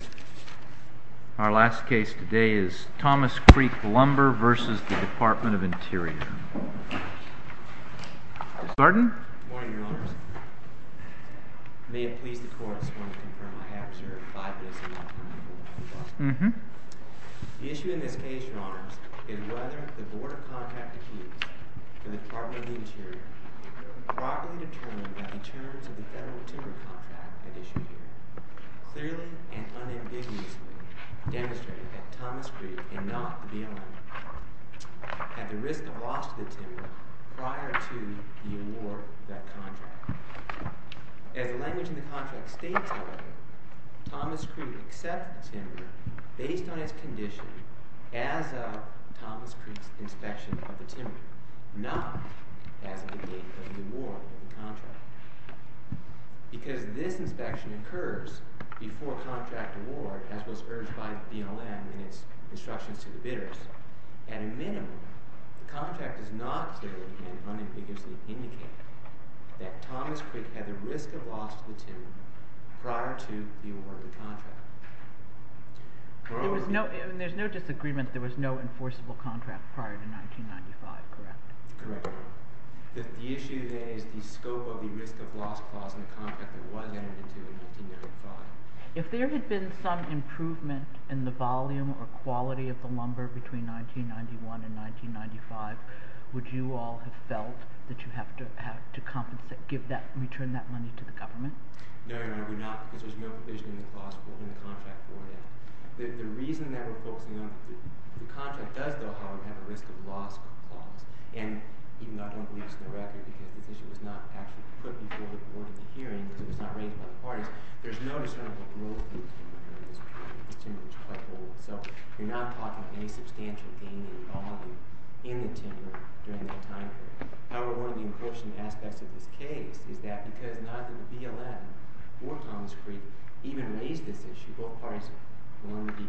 Good morning, Your Honors. May it please the Court, I just want to confirm I have observed five bills in my firm that I have not reviewed. The issue in this case, Your Honors, is whether the board of contract appeals for the Department of the Interior have been properly determined by the terms of the federal timber contract that issued here, clearly and unambiguously demonstrated that Thomas Creek and not the BLM had the risk of loss to the timber prior to the award of that contract. As the language in the contract states, however, Thomas Creek accepted the timber based on its condition as of Thomas Creek's inspection of the timber, not as of the date of the award of the contract. Because this inspection occurs before contract award, as was urged by the BLM in its instructions to the bidders, at a minimum, the contract does not clearly and unambiguously indicate that Thomas Creek had the risk of loss to the timber prior to the award of the contract. There's no disagreement that there was no enforceable contract prior to 1995, correct? Correct, Your Honor. The issue there is the scope of the risk of loss clause in the contract that was entered into in 1995. If there had been some improvement in the volume or quality of the lumber between 1991 and 1995, would you all have felt that you have to compensate, give that, return that money to the government? No, Your Honor, we're not, because there's no provision in the clause in the contract for that. The reason that we're focusing on, the contract does, though, however, have a risk of loss clause. And even though I don't believe it's in the record, because this issue was not actually put before the board of the hearing, because it was not raised by the parties, there's no discernible growth in the timber during this period. This timber was quite old, so we're not talking any substantial gain in volume in the timber during that time period. However, one of the important aspects of this case is that because neither the BLM nor Thomas Creek even raised this issue, both parties will only be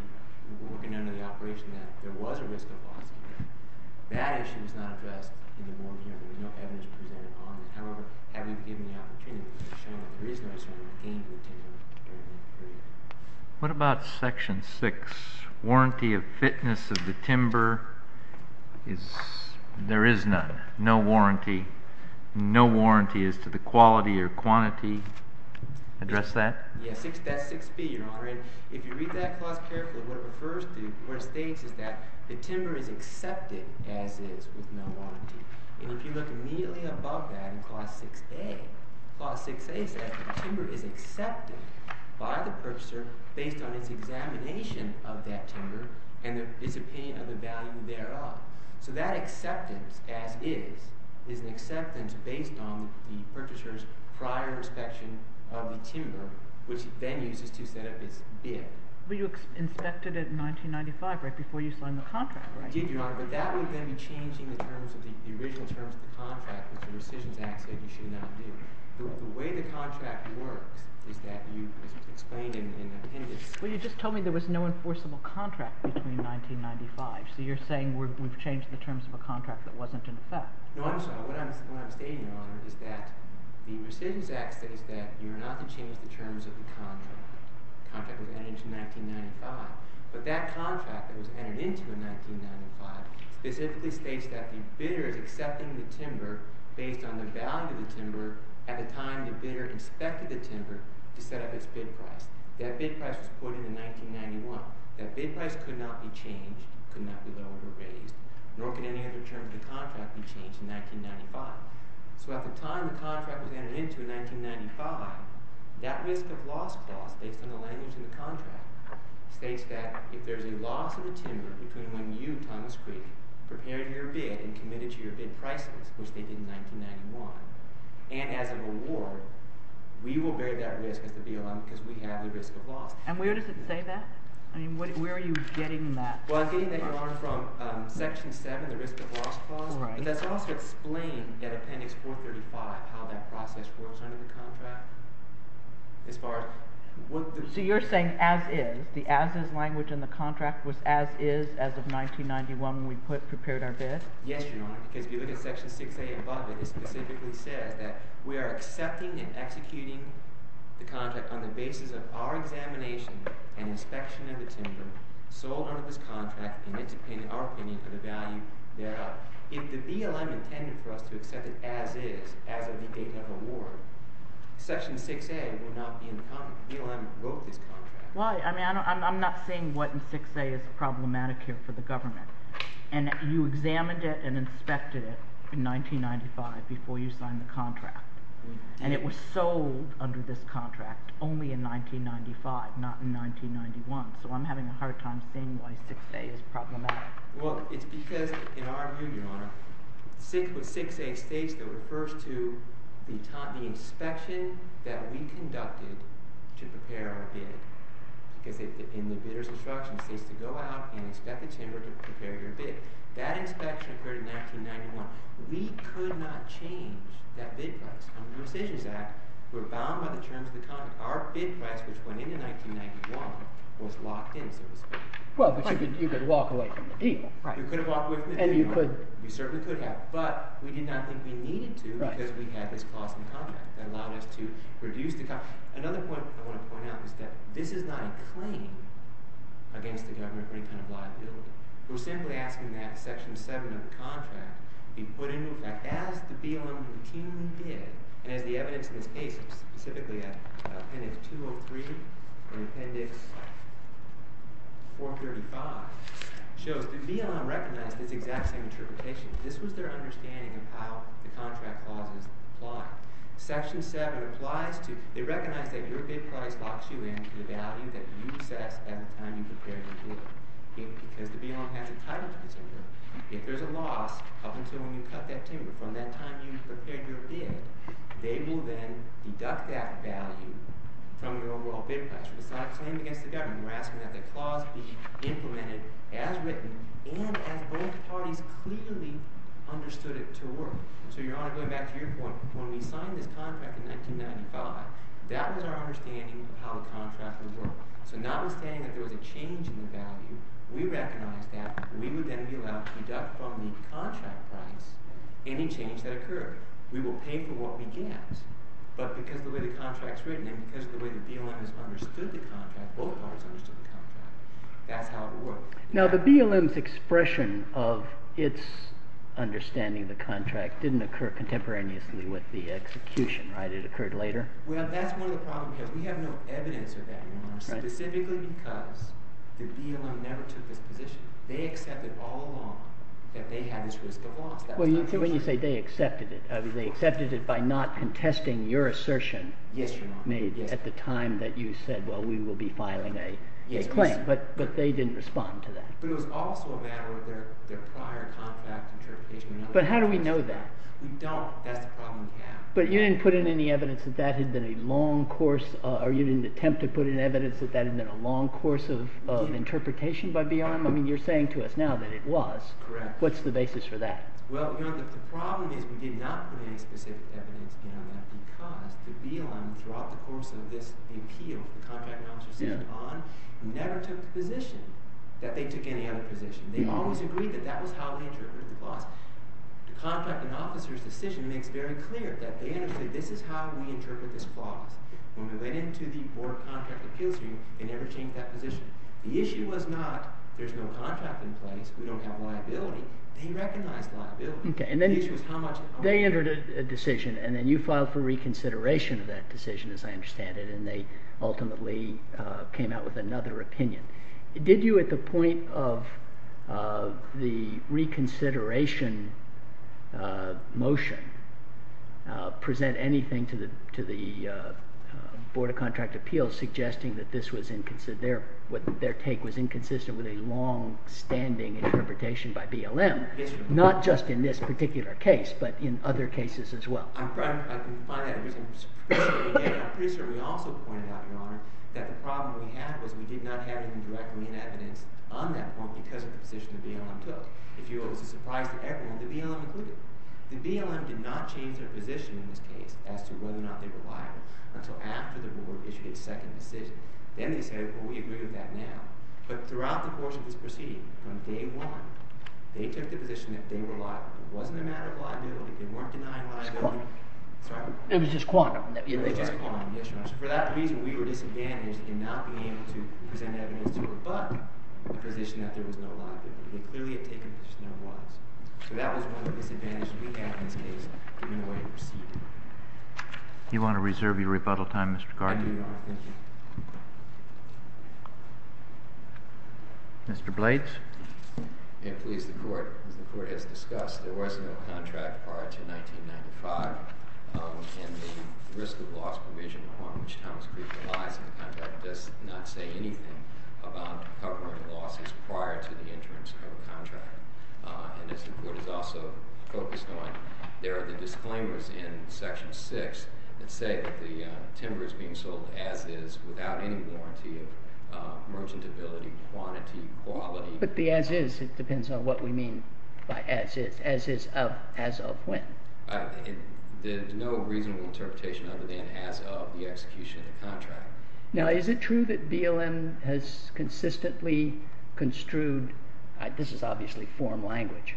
working under the operation that there was a risk of loss. That issue is not addressed in the board hearing. There's no evidence presented on it. However, have you given the opportunity to show that there is no risk of gain in the timber during that period? What about Section 6, warranty of fitness of the timber? There is none, no warranty. No warranty as to the quality or quantity. Address that? Yes, that's 6B, Your Honor. And if you read that clause carefully, what it refers to, what it states is that the timber is accepted as is with no warranty. And if you look immediately above that in Clause 6A, Clause 6A says the timber is accepted by the purchaser based on its examination of that timber and its opinion of the value thereof. So that acceptance as is is an acceptance based on the purchaser's prior inspection of the timber, which then uses to set up its bid. But you inspected it in 1995, right before you signed the contract, right? I did, Your Honor, but that would then be changing the original terms of the contract, which the rescissions act said you should not do. The way the contract works is that you explain in the appendix. Well, you just told me there was no enforceable contract between 1995. So you're saying we've changed the terms of a contract that wasn't in effect. No, I'm sorry. What I'm stating, Your Honor, is that the rescissions act states that you are not to change the terms of the contract. The contract was entered into in 1995. But that contract that was entered into in 1995 specifically states that the bidder is accepting the timber based on the value of the timber at the time the bidder inspected the timber to set up its bid price. That bid price was put in in 1991. That bid price could not be changed, could not be lowered or raised, nor could any other term of the contract be changed in 1995. So at the time the contract was entered into in 1995, that risk of loss clause based on the language in the contract states that if there's a loss of a timber between when you, Thomas Creek, prepared your bid and committed to your bid prices, which they did in 1991, and as a reward, we will bear that risk as the BLM because we have the risk of loss. And where does it say that? I mean, where are you getting that? Well, I'm getting that, Your Honor, from section 7, the risk of loss clause. But that's also explained in appendix 435 how that process works under the contract. So you're saying as is, the as is language in the contract was as is as of 1991 when we prepared our bid? Yes, Your Honor, because if you look at section 6A above it, it specifically says that we are accepting and executing the contract on the basis of our examination and inspection of the timber sold under this contract in our opinion for the value thereof. If the BLM intended for us to accept it as is, as of the date of award, section 6A would not be in the contract. BLM broke this contract. Why? I mean, I'm not seeing what in 6A is problematic here for the government. And you examined it and inspected it in 1995 before you signed the contract. And it was sold under this contract only in 1995, not in 1991. So I'm having a hard time seeing why 6A is problematic. Well, it's because in our view, Your Honor, 6A states that refers to the inspection that we conducted to prepare our bid. Because in the bidder's instruction, it says to go out and inspect the timber to prepare your bid. That inspection occurred in 1991. We could not change that bid price. Under the Decisions Act, we're bound by the terms of the contract. Our bid price, which went into 1991, was locked in. Well, but you could walk away from the deal. You could have walked away from the deal. We certainly could have. But we did not think we needed to because we had this clause in the contract that allowed us to reduce the cost. Another point I want to point out is that this is not a claim against the government for any kind of liability. We're simply asking that section 7 of the contract be put into effect as the BLM routinely did. And as the evidence in this case, specifically Appendix 203 and Appendix 435 shows, the BLM recognized this exact same interpretation. This was their understanding of how the contract clauses apply. Section 7 applies to—they recognize that your bid price locks you in to the value that you assessed at the time you prepared your bid. Because the BLM has a title to consider. If there's a loss up until when you cut that timber from that time you prepared your bid, they will then deduct that value from your overall bid price. It's not a claim against the government. We're asking that the clause be implemented as written and as both parties clearly understood it to work. So, Your Honor, going back to your point, when we signed this contract in 1995, that was our understanding of how the contract would work. So not understanding that there was a change in the value, we recognized that we would then be allowed to deduct from the contract price any change that occurred. We will pay for what we get. But because of the way the contract's written and because of the way the BLM has understood the contract, both parties understood the contract, that's how it worked. Now, the BLM's expression of its understanding of the contract didn't occur contemporaneously with the execution, right? It occurred later? Well, that's one of the problems, because we have no evidence of that, Your Honor, specifically because the BLM never took this position. They accepted all along that they had this risk of loss. Well, when you say they accepted it, I mean, they accepted it by not contesting your assertion made at the time that you said, well, we will be filing a claim. But they didn't respond to that. But it was also a matter of their prior contract interpretation. But how do we know that? We don't. That's the problem we have. But you didn't put in any evidence that that had been a long course, or you didn't attempt to put in evidence that that had been a long course of interpretation by BLM? I mean, you're saying to us now that it was. Correct. What's the basis for that? Well, Your Honor, the problem is we did not put any specific evidence in on that because the BLM, throughout the course of this appeal, the contract officers sat on, never took the position that they took any other position. They always agreed that that was how they interpreted the clause. The contracting officer's decision makes very clear that they understood this is how we interpret this clause. When we went into the Board of Contract Appeals room, they never changed that position. The issue was not there's no contract in place. We don't have liability. They recognized liability. The issue was how much. They entered a decision, and then you filed for reconsideration of that decision, as I understand it, and they ultimately came out with another opinion. Did you, at the point of the reconsideration motion, present anything to the Board of Contract Appeals suggesting that their take was inconsistent with a longstanding interpretation by BLM? Not just in this particular case, but in other cases as well. I can find that reason. I'm pretty sure we also pointed out, Your Honor, that the problem we had was we did not have any direct lien evidence on that point because of the position the BLM took. If you will, it was a surprise to everyone that BLM included. The BLM did not change their position in this case as to whether or not they were liable until after the Board issued its second decision. Then they said, well, we agree with that now. But throughout the course of this proceeding, from day one, they took the position that they were liable. It wasn't a matter of liability. It was just quantum. It was just quantum. It was just quantum. Yes, Your Honor. For that reason, we were disadvantaged in not being able to present evidence to rebut the position that there was no liability. They clearly had taken the position there was. So that was one of the disadvantages we had in this case in the way it proceeded. You want to reserve your rebuttal time, Mr. Carter? I do, Your Honor. Thank you. Mr. Blades. May it please the Court. As the Court has discussed, there was no contract prior to 1995. And the risk of loss provision on which Thomas Creek relies in the contract does not say anything about covering losses prior to the entrance of a contract. And as the Court has also focused on, there are the disclaimers in Section 6 that say that the timber is being sold as is without any warranty of merchantability, quantity, quality. But the as is, it depends on what we mean by as is. As is of as of when? There's no reasonable interpretation other than as of the execution of the contract. Now, is it true that BLM has consistently construed – this is obviously foreign language.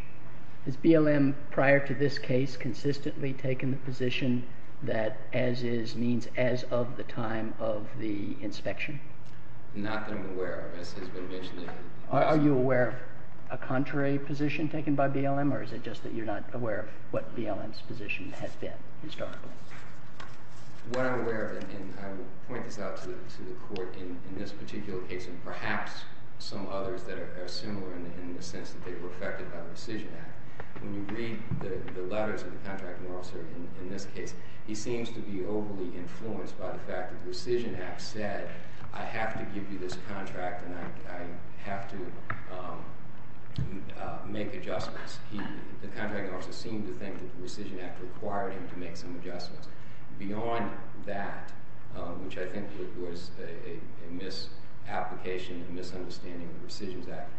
Has BLM prior to this case consistently taken the position that as is means as of the time of the inspection? Not that I'm aware of. Are you aware of a contrary position taken by BLM, or is it just that you're not aware of what BLM's position has been historically? What I'm aware of, and I will point this out to the Court in this particular case and perhaps some others that are similar in the sense that they were affected by the Rescission Act. When you read the letters of the contracting officer in this case, he seems to be overly influenced by the fact that the Rescission Act said, I have to give you this contract and I have to make adjustments. The contracting officer seemed to think that the Rescission Act required him to make some adjustments. Beyond that, which I think was a misapplication, a misunderstanding of the Rescission Act,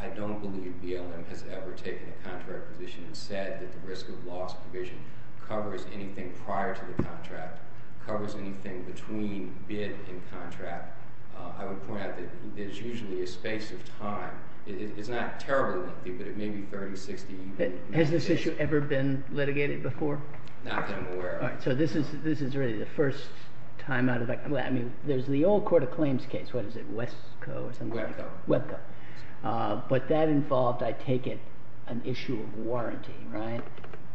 I don't believe BLM has ever taken a contrary position and said that the risk of loss provision covers anything prior to the contract, covers anything between bid and contract. I would point out that there's usually a space of time. It's not terribly lengthy, but it may be 30, 60 minutes. Has this issue ever been litigated before? Not that I'm aware of. All right, so this is really the first time out of that. I mean, there's the old Court of Claims case. What is it? Wesco or something? Webco. Webco. But that involved, I take it, an issue of warranty, right?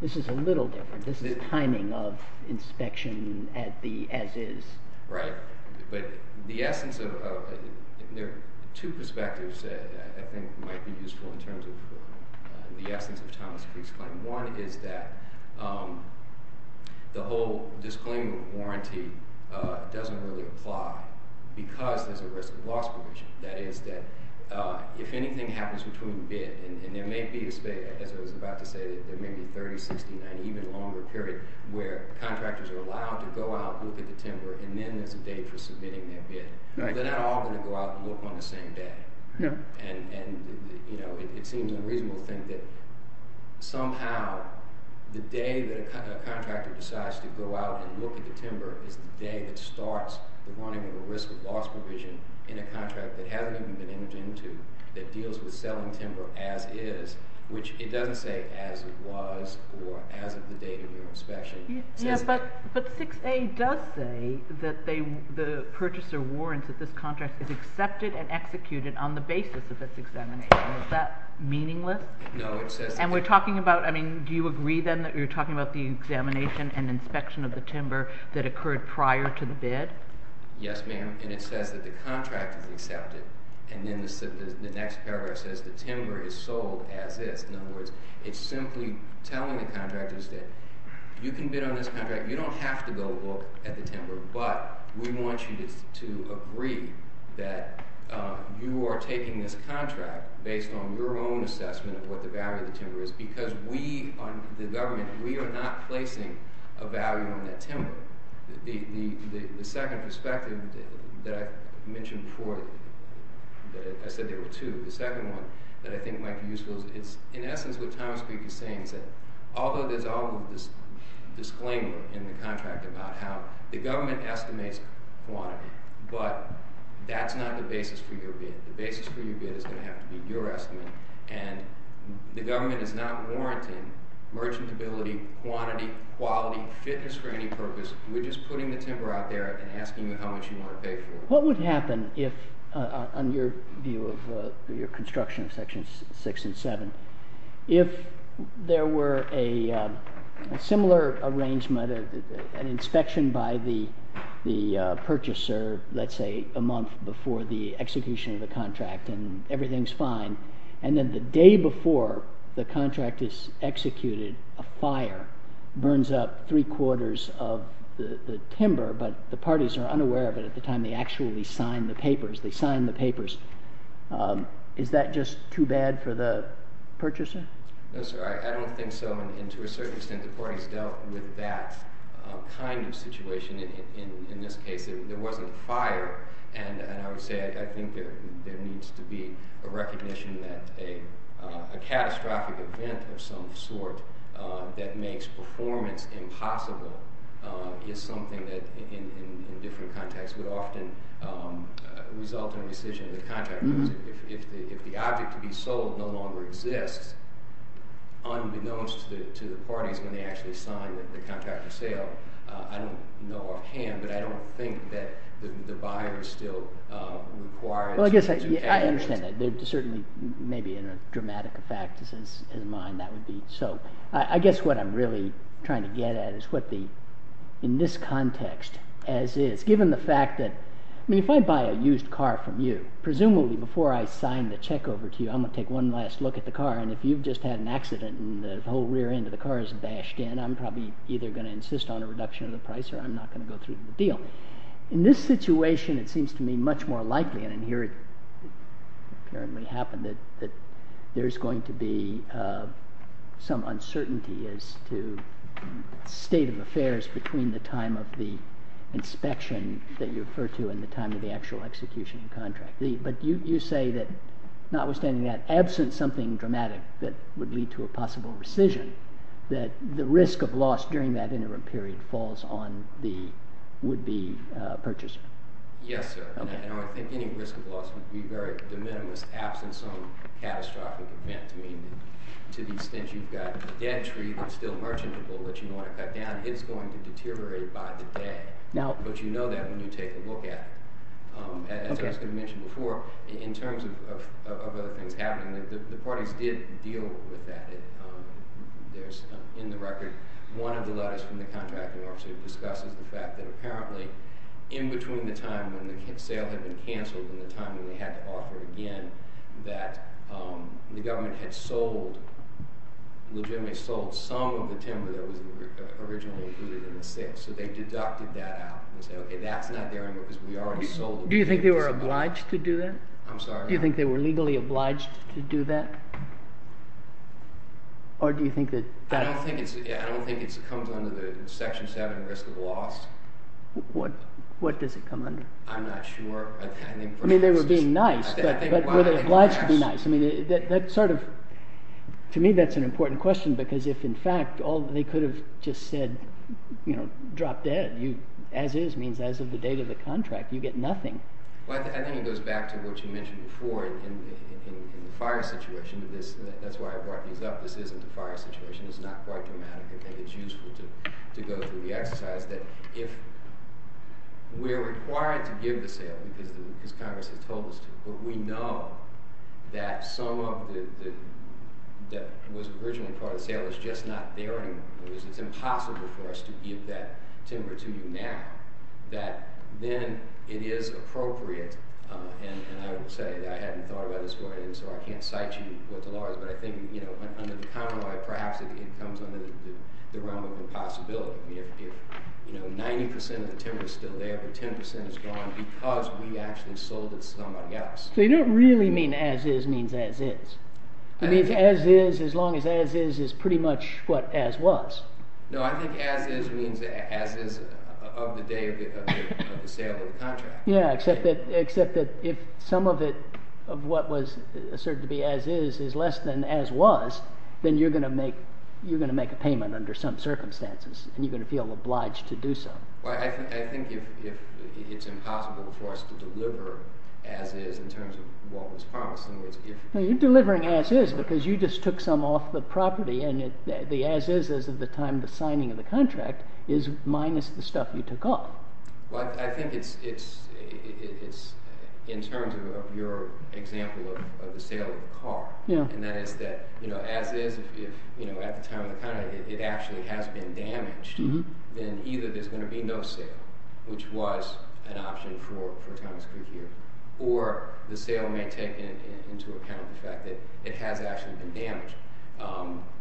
This is a little different. This is timing of inspection as is. Right. But the essence of it, there are two perspectives that I think might be useful in terms of the essence of Thomas Creek's claim. One is that the whole disclaimer of warranty doesn't really apply because there's a risk of loss provision. That is that if anything happens between bid, and there may be a space, as I was about to say, there may be 30, 60, 90, even longer period where contractors are allowed to go out, look at the timber, and then there's a date for submitting their bid. Right. They're not all going to go out and look on the same day. No. It seems unreasonable to think that somehow the day that a contractor decides to go out and look at the timber is the day that starts the warning of a risk of loss provision in a contract that hasn't even been entered into that deals with selling timber as is, which it doesn't say as it was or as of the date of your inspection. But 6A does say that the purchaser warrants that this contract is accepted and executed on the basis of this examination. Is that meaningless? No. And we're talking about, I mean, do you agree then that you're talking about the examination and inspection of the timber that occurred prior to the bid? Yes, ma'am. And it says that the contract is accepted. And then the next paragraph says the timber is sold as is. In other words, it's simply telling the contractors that you can bid on this contract, you don't have to go look at the timber, but we want you to agree that you are taking this contract based on your own assessment of what the value of the timber is because we, the government, we are not placing a value on that timber. The second perspective that I mentioned before, I said there were two. The second one that I think might be useful is in essence what Thomas Creek is saying is that although there's all this disclaimer in the contract about how the government estimates quantity, but that's not the basis for your bid. The basis for your bid is going to have to be your estimate. And the government is not warranting merchantability, quantity, quality, fitness for any purpose. We're just putting the timber out there and asking you how much you want to pay for it. What would happen if, on your view of your construction of sections six and seven, if there were a similar arrangement, an inspection by the purchaser, let's say, a month before the execution of the contract and everything's fine, and then the day before the contract is executed, a fire burns up three quarters of the timber, but the parties are unaware of it at the time they actually sign the papers. They sign the papers. Is that just too bad for the purchaser? No, sir. I don't think so. And to a certain extent, the parties dealt with that kind of situation. In this case, there wasn't a fire. And I would say I think there needs to be a recognition that a catastrophic event of some sort that makes performance impossible is something that in different contexts would often result in a decision of the contractor. If the object to be sold no longer exists, unbeknownst to the parties when they actually sign the contract for sale, I don't know offhand, but I don't think that the buyer still requires them to pay. Well, I guess I understand that. Certainly, maybe in a dramatic effect, in his mind, that would be so. I guess what I'm really trying to get at is what the, in this context, as is, given the fact that, I mean, if I buy a used car from you, presumably before I sign the check over to you, I'm going to take one last look at the car, and if you've just had an accident and the whole rear end of the car is bashed in, I'm probably either going to insist on a reduction of the price or I'm not going to go through with the deal. In this situation, it seems to me much more likely, and here it apparently happened, that there's going to be some uncertainty as to the state of affairs between the time of the inspection that you refer to and the time of the actual execution of the contract. But you say that, notwithstanding that absence, something dramatic that would lead to a possible rescission, that the risk of loss during that interim period falls on the would-be purchaser. Yes, sir. Now, I think any risk of loss would be very de minimis, absent some catastrophic event. I mean, to the extent you've got a debt tree that's still merchantable that you don't want to cut down, it's going to deteriorate by the day. But you know that when you take a look at it. As I was going to mention before, in terms of other things happening, the parties did deal with that. In the record, one of the letters from the contracting officer discusses the fact that apparently, in between the time when the sale had been canceled and the time when they had to offer again, that the government had sold, legitimately sold, some of the timber that was originally included in the sale. So they deducted that out and said, OK, that's not there anymore because we already sold it. Do you think they were obliged to do that? I'm sorry? Do you think they were legally obliged to do that? I don't think it comes under the Section 7 risk of loss. What does it come under? I'm not sure. I mean, they were being nice, but were they obliged to be nice? To me, that's an important question because if, in fact, they could have just said, drop dead. As is means as of the date of the contract. You get nothing. I think it goes back to what you mentioned before in the fire situation. That's why I brought these up. This isn't a fire situation. It's not quite dramatic. I think it's useful to go through the exercise that if we're required to give the sale because Congress has told us to, but we know that some of what was originally part of the sale is just not there anymore. It's impossible for us to give that timber to you now, that then it is appropriate. And I would say that I hadn't thought about this beforehand, so I can't cite you what the law is. But I think under the common law, perhaps it comes under the realm of impossibility. If 90% of the timber is still there, but 10% is gone because we actually sold it to somebody else. So you don't really mean as is means as is. It means as is as long as as is is pretty much what as was. No, I think as is means as is of the day of the sale of the contract. Yeah, except that if some of it of what was asserted to be as is is less than as was, then you're going to make a payment under some circumstances, and you're going to feel obliged to do so. I think it's impossible for us to deliver as is in terms of what was promised. You're delivering as is because you just took some off the property, and the as is of the time of the signing of the contract is minus the stuff you took off. Well, I think it's in terms of your example of the sale of the car, and that is that as is, if at the time of the contract it actually has been damaged, then either there's going to be no sale, which was an option for Thomas Creek here, or the sale may take into account the fact that it has actually been damaged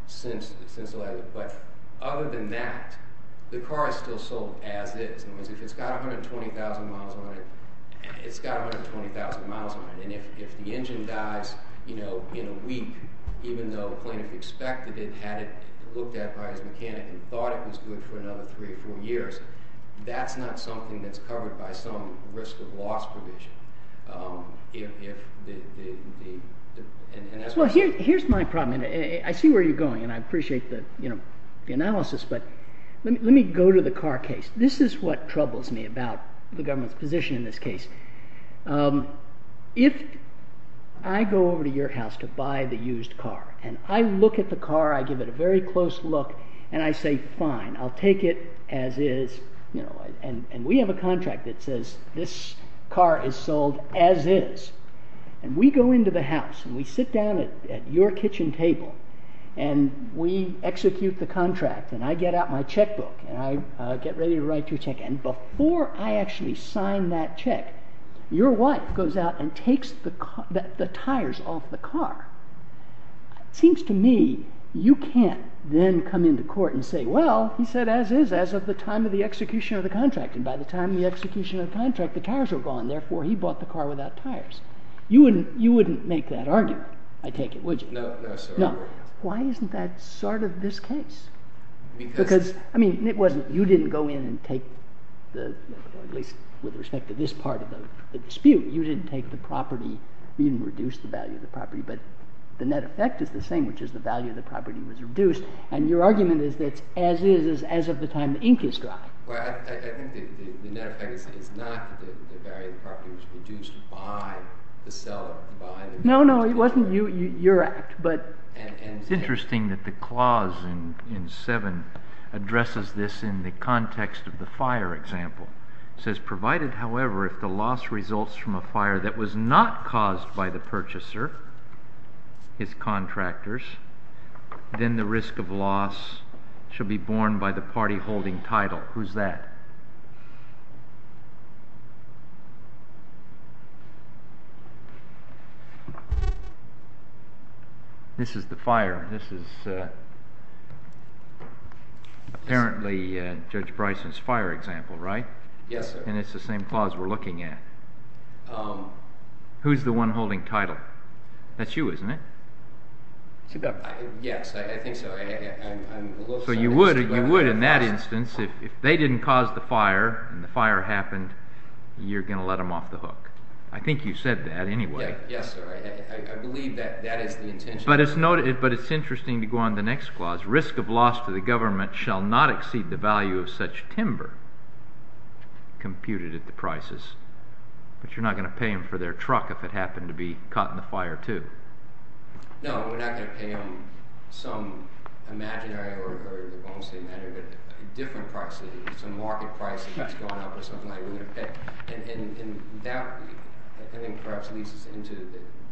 since the letter. But other than that, the car is still sold as is. In other words, if it's got 120,000 miles on it, it's got 120,000 miles on it. And if the engine dies in a week, even though the plaintiff expected it, had it looked at by his mechanic, and thought it was good for another three or four years, that's not something that's covered by some risk of loss provision. Well, here's my problem, and I see where you're going, and I appreciate the analysis, but let me go to the car case. This is what troubles me about the government's position in this case. If I go over to your house to buy the used car, and I look at the car, I give it a very close look, and I say, fine, I'll take it as is, and we have a contract that says this car is sold as is, and we go into the house, and we sit down at your kitchen table, and we execute the contract, and I get out my checkbook, and I get ready to write your check, and before I actually sign that check, your wife goes out and takes the tires off the car. It seems to me you can't then come into court and say, well, he said as is, as of the time of the execution of the contract, and by the time of the execution of the contract, the tires are gone, therefore he bought the car without tires. You wouldn't make that argument, I take it, would you? No. Why isn't that sort of this case? Because, I mean, you didn't go in and take the, at least with respect to this part of the dispute, you didn't take the property, you didn't reduce the value of the property, but the net effect is the same, which is the value of the property was reduced, and your argument is that as is is as of the time the ink is dry. Well, I think the net effect is not that the value of the property was reduced by the sale, by the... No, no, it wasn't your act, but... It's interesting that the clause in 7 addresses this in the context of the fire example. It says, provided, however, if the loss results from a fire that was not caused by the purchaser, his contractors, then the risk of loss should be borne by the party holding title. Who's that? This is the fire. This is apparently Judge Bryson's fire example, right? Yes, sir. And it's the same clause we're looking at. Who's the one holding title? That's you, isn't it? Yes, I think so. So you would, in that instance, if they didn't cause the fire and the fire happened, you're going to let them off the hook. I think you said that anyway. Yes, sir. I believe that that is the intention. But it's interesting to go on to the next clause. Risk of loss to the government shall not exceed the value of such timber computed at the prices. But you're not going to pay them for their truck if it happened to be caught in the fire, too. No, we're not going to pay them some imaginary or a different price, some market price that's gone up or something like that. And that perhaps leads us into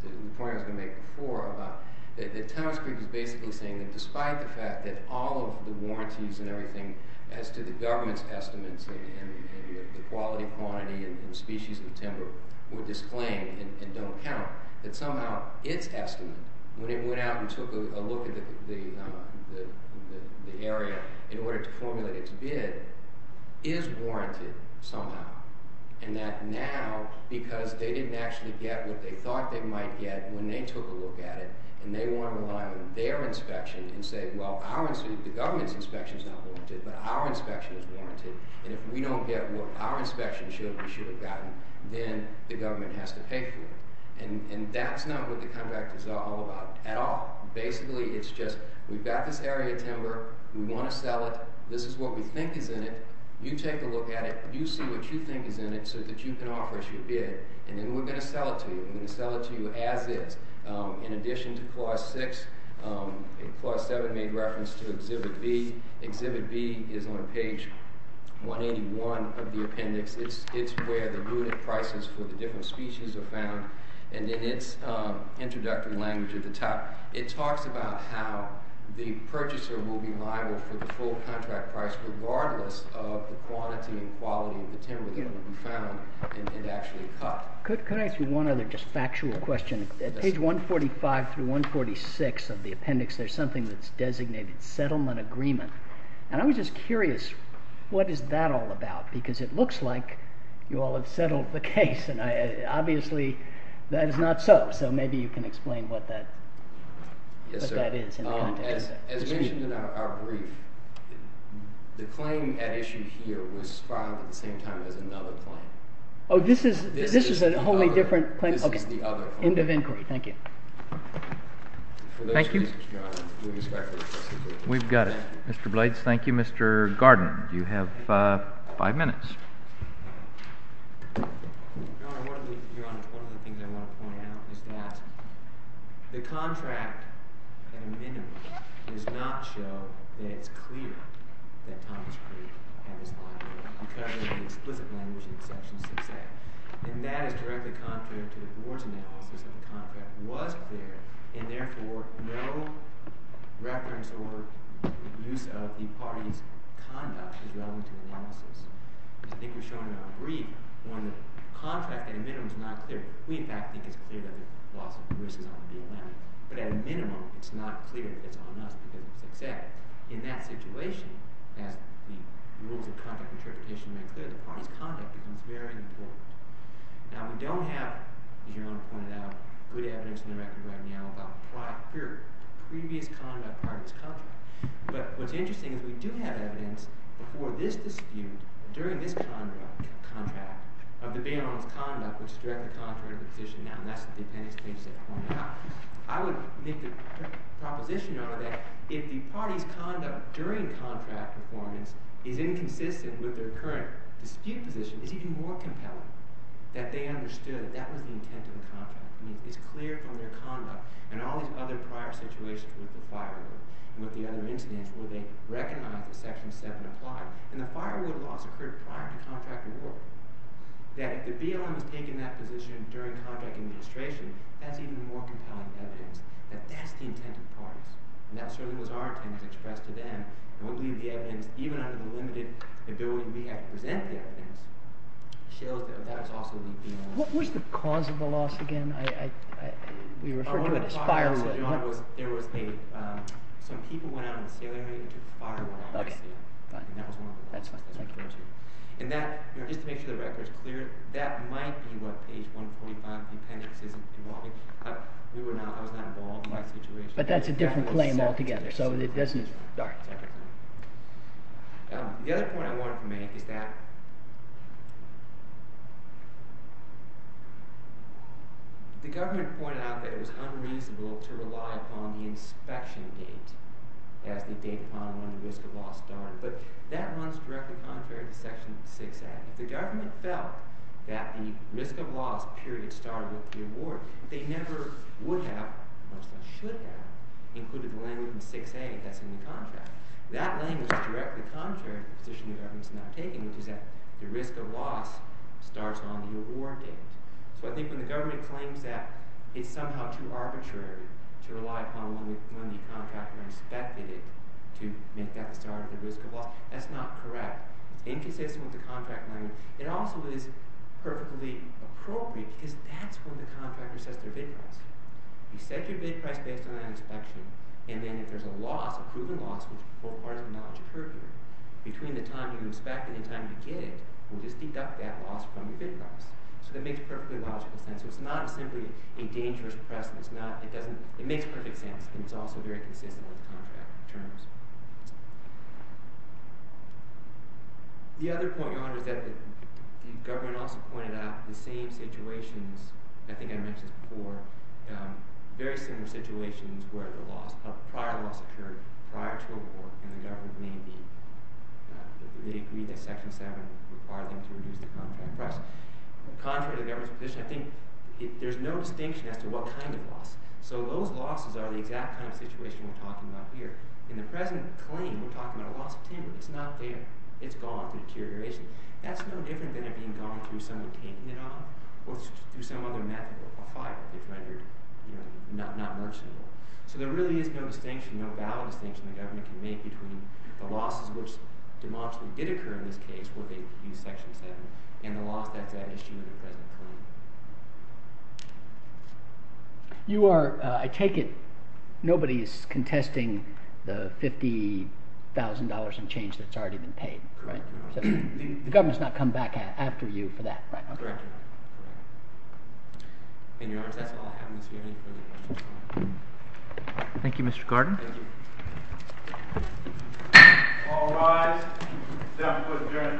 the point I was going to make before about the Tennessee is basically saying that despite the fact that all of the warranties and everything as to the government's estimates and the quality, quantity, and species of timber were disclaimed and don't count, that somehow its estimate, when it went out and took a look at the area in order to formulate its bid, is warranted somehow. And that now, because they didn't actually get what they thought they might get when they took a look at it, and they want to rely on their inspection and say, well, the government's inspection is not warranted, but our inspection is warranted, and if we don't get what our inspection should have, we should have gotten, then the government has to pay for it. And that's not what the Comeback is all about at all. Basically, it's just we've got this area of timber, we want to sell it, this is what we think is in it, you take a look at it, you see what you think is in it so that you can offer us your bid, and then we're going to sell it to you. We're going to sell it to you as is. In addition to Clause 6, Clause 7 made reference to Exhibit B. Exhibit B is on page 181 of the appendix. It's where the rooted prices for the different species are found, and in its introductory language at the top, it talks about how the purchaser will be liable for the full contract price regardless of the quantity and quality of the timber that can be found and actually cut. Could I ask you one other just factual question? At page 145 through 146 of the appendix, there's something that's designated Settlement Agreement, and I was just curious, what is that all about? Because it looks like you all have settled the case, and obviously that is not so. So maybe you can explain what that is in the context. As mentioned in our brief, the claim at issue here was filed at the same time as another claim. Oh, this is a wholly different claim? This is the other claim. OK. End of inquiry. Thank you. Thank you. We've got it. Mr. Blades, thank you. Mr. Garden, you have five minutes. Your Honor, one of the things I want to point out is that the contract at a minimum does not show that it's clear that Thomas Creek had his liability because of the explicit language in section 6A. And that is directly contrary to the board's analysis that the contract was clear, and therefore no reference or use of the party's conduct is relevant to the witnesses. As I think we've shown in our brief, one, the contract at a minimum is not clear. We, in fact, think it's clear that there are lots of risks on the DLM. But at a minimum, it's not clear that it's on us because of 6A. In that situation, as the rules of conduct verification make clear, the party's conduct becomes very important. Now, we don't have, as Your Honor pointed out, good evidence in the record right now about prior, previous conduct part of this contract. But what's interesting is we do have evidence for this dispute, during this contract, of the bailiff's conduct, which is directly contrary to the position now. And that's the appendix page that I pointed out. I would make the proposition, Your Honor, that if the party's conduct during contract performance is inconsistent with their current dispute position, it's even more compelling that they understood that that was the intent of the contract. I mean, it's clear from their conduct and all these other prior situations with the firewood and with the other incidents where they recognized that Section 7 applied. And the firewood loss occurred prior to contract award. That if the BLM has taken that position during contract administration, that's even more compelling evidence that that's the intent of the parties. And that certainly was our intent expressed to them. And we believe the evidence, even under the limited ability we have to present the evidence, shows that that is also the intent of the parties. What was the cause of the loss again? We referred to it as firewood. Your Honor, there was a... Some people went out on a sailor mate and took firewood off their sail. And that was one of the causes. And that, just to make sure the record is clear, that might be what page 145 of the appendix is involving. I was not involved in that situation. But that's a different claim altogether, so it doesn't... All right. The other point I wanted to make is that... The government pointed out that it was unreasonable to rely upon the inspection date as the date upon when the risk of loss started. But that runs directly contrary to Section 6a. If the government felt that the risk of loss period started with the award, they never would have, much less should have, included the language in 6a that's in the contract. That language is directly contrary to the position the government is now taking, which is that the risk of loss starts on the award date. So I think when the government claims that it's somehow too arbitrary to rely upon when the contractor inspected it to make that the start of the risk of loss, that's not correct. It's inconsistent with the contract language. It also is perfectly appropriate, because that's when the contractor says their bid price. You set your bid price based on that inspection, and then if there's a loss, a proven loss, which is a part of the knowledge of perjury, between the time you inspect and the time you get it, we'll just deduct that loss from your bid price. So that makes perfectly logical sense. It's not simply a dangerous precedent. It makes perfect sense, and it's also very consistent with contract terms. The other point, Your Honor, is that the government also pointed out the same situations, I think I mentioned before, very similar situations where the prior loss occurred prior to award, and the government may agree that Section 7 required them to reduce the contract price. Contrary to the government's position, I think there's no distinction as to what kind of loss. So those losses are the exact kind of situation we're talking about here. In the present claim, we're talking about a loss of tenure. It's not that it's gone through deterioration. That's no different than it being gone through somebody taking it on or through some other method of a fight that they've rendered not merciful. So there really is no distinction, no valid distinction the government can make between the losses which demonstrably did occur in this case where they used Section 7 and the loss that's at issue in the present claim. You are, I take it, nobody is contesting the $50,000 in change that's already been paid? Correct, Your Honor. The government's not come back after you for that, right? Correct, Your Honor. In your honor, that's all I have in this hearing. Thank you, Mr. Gordon. Thank you. All rise. The defendant will adjourn for the day today.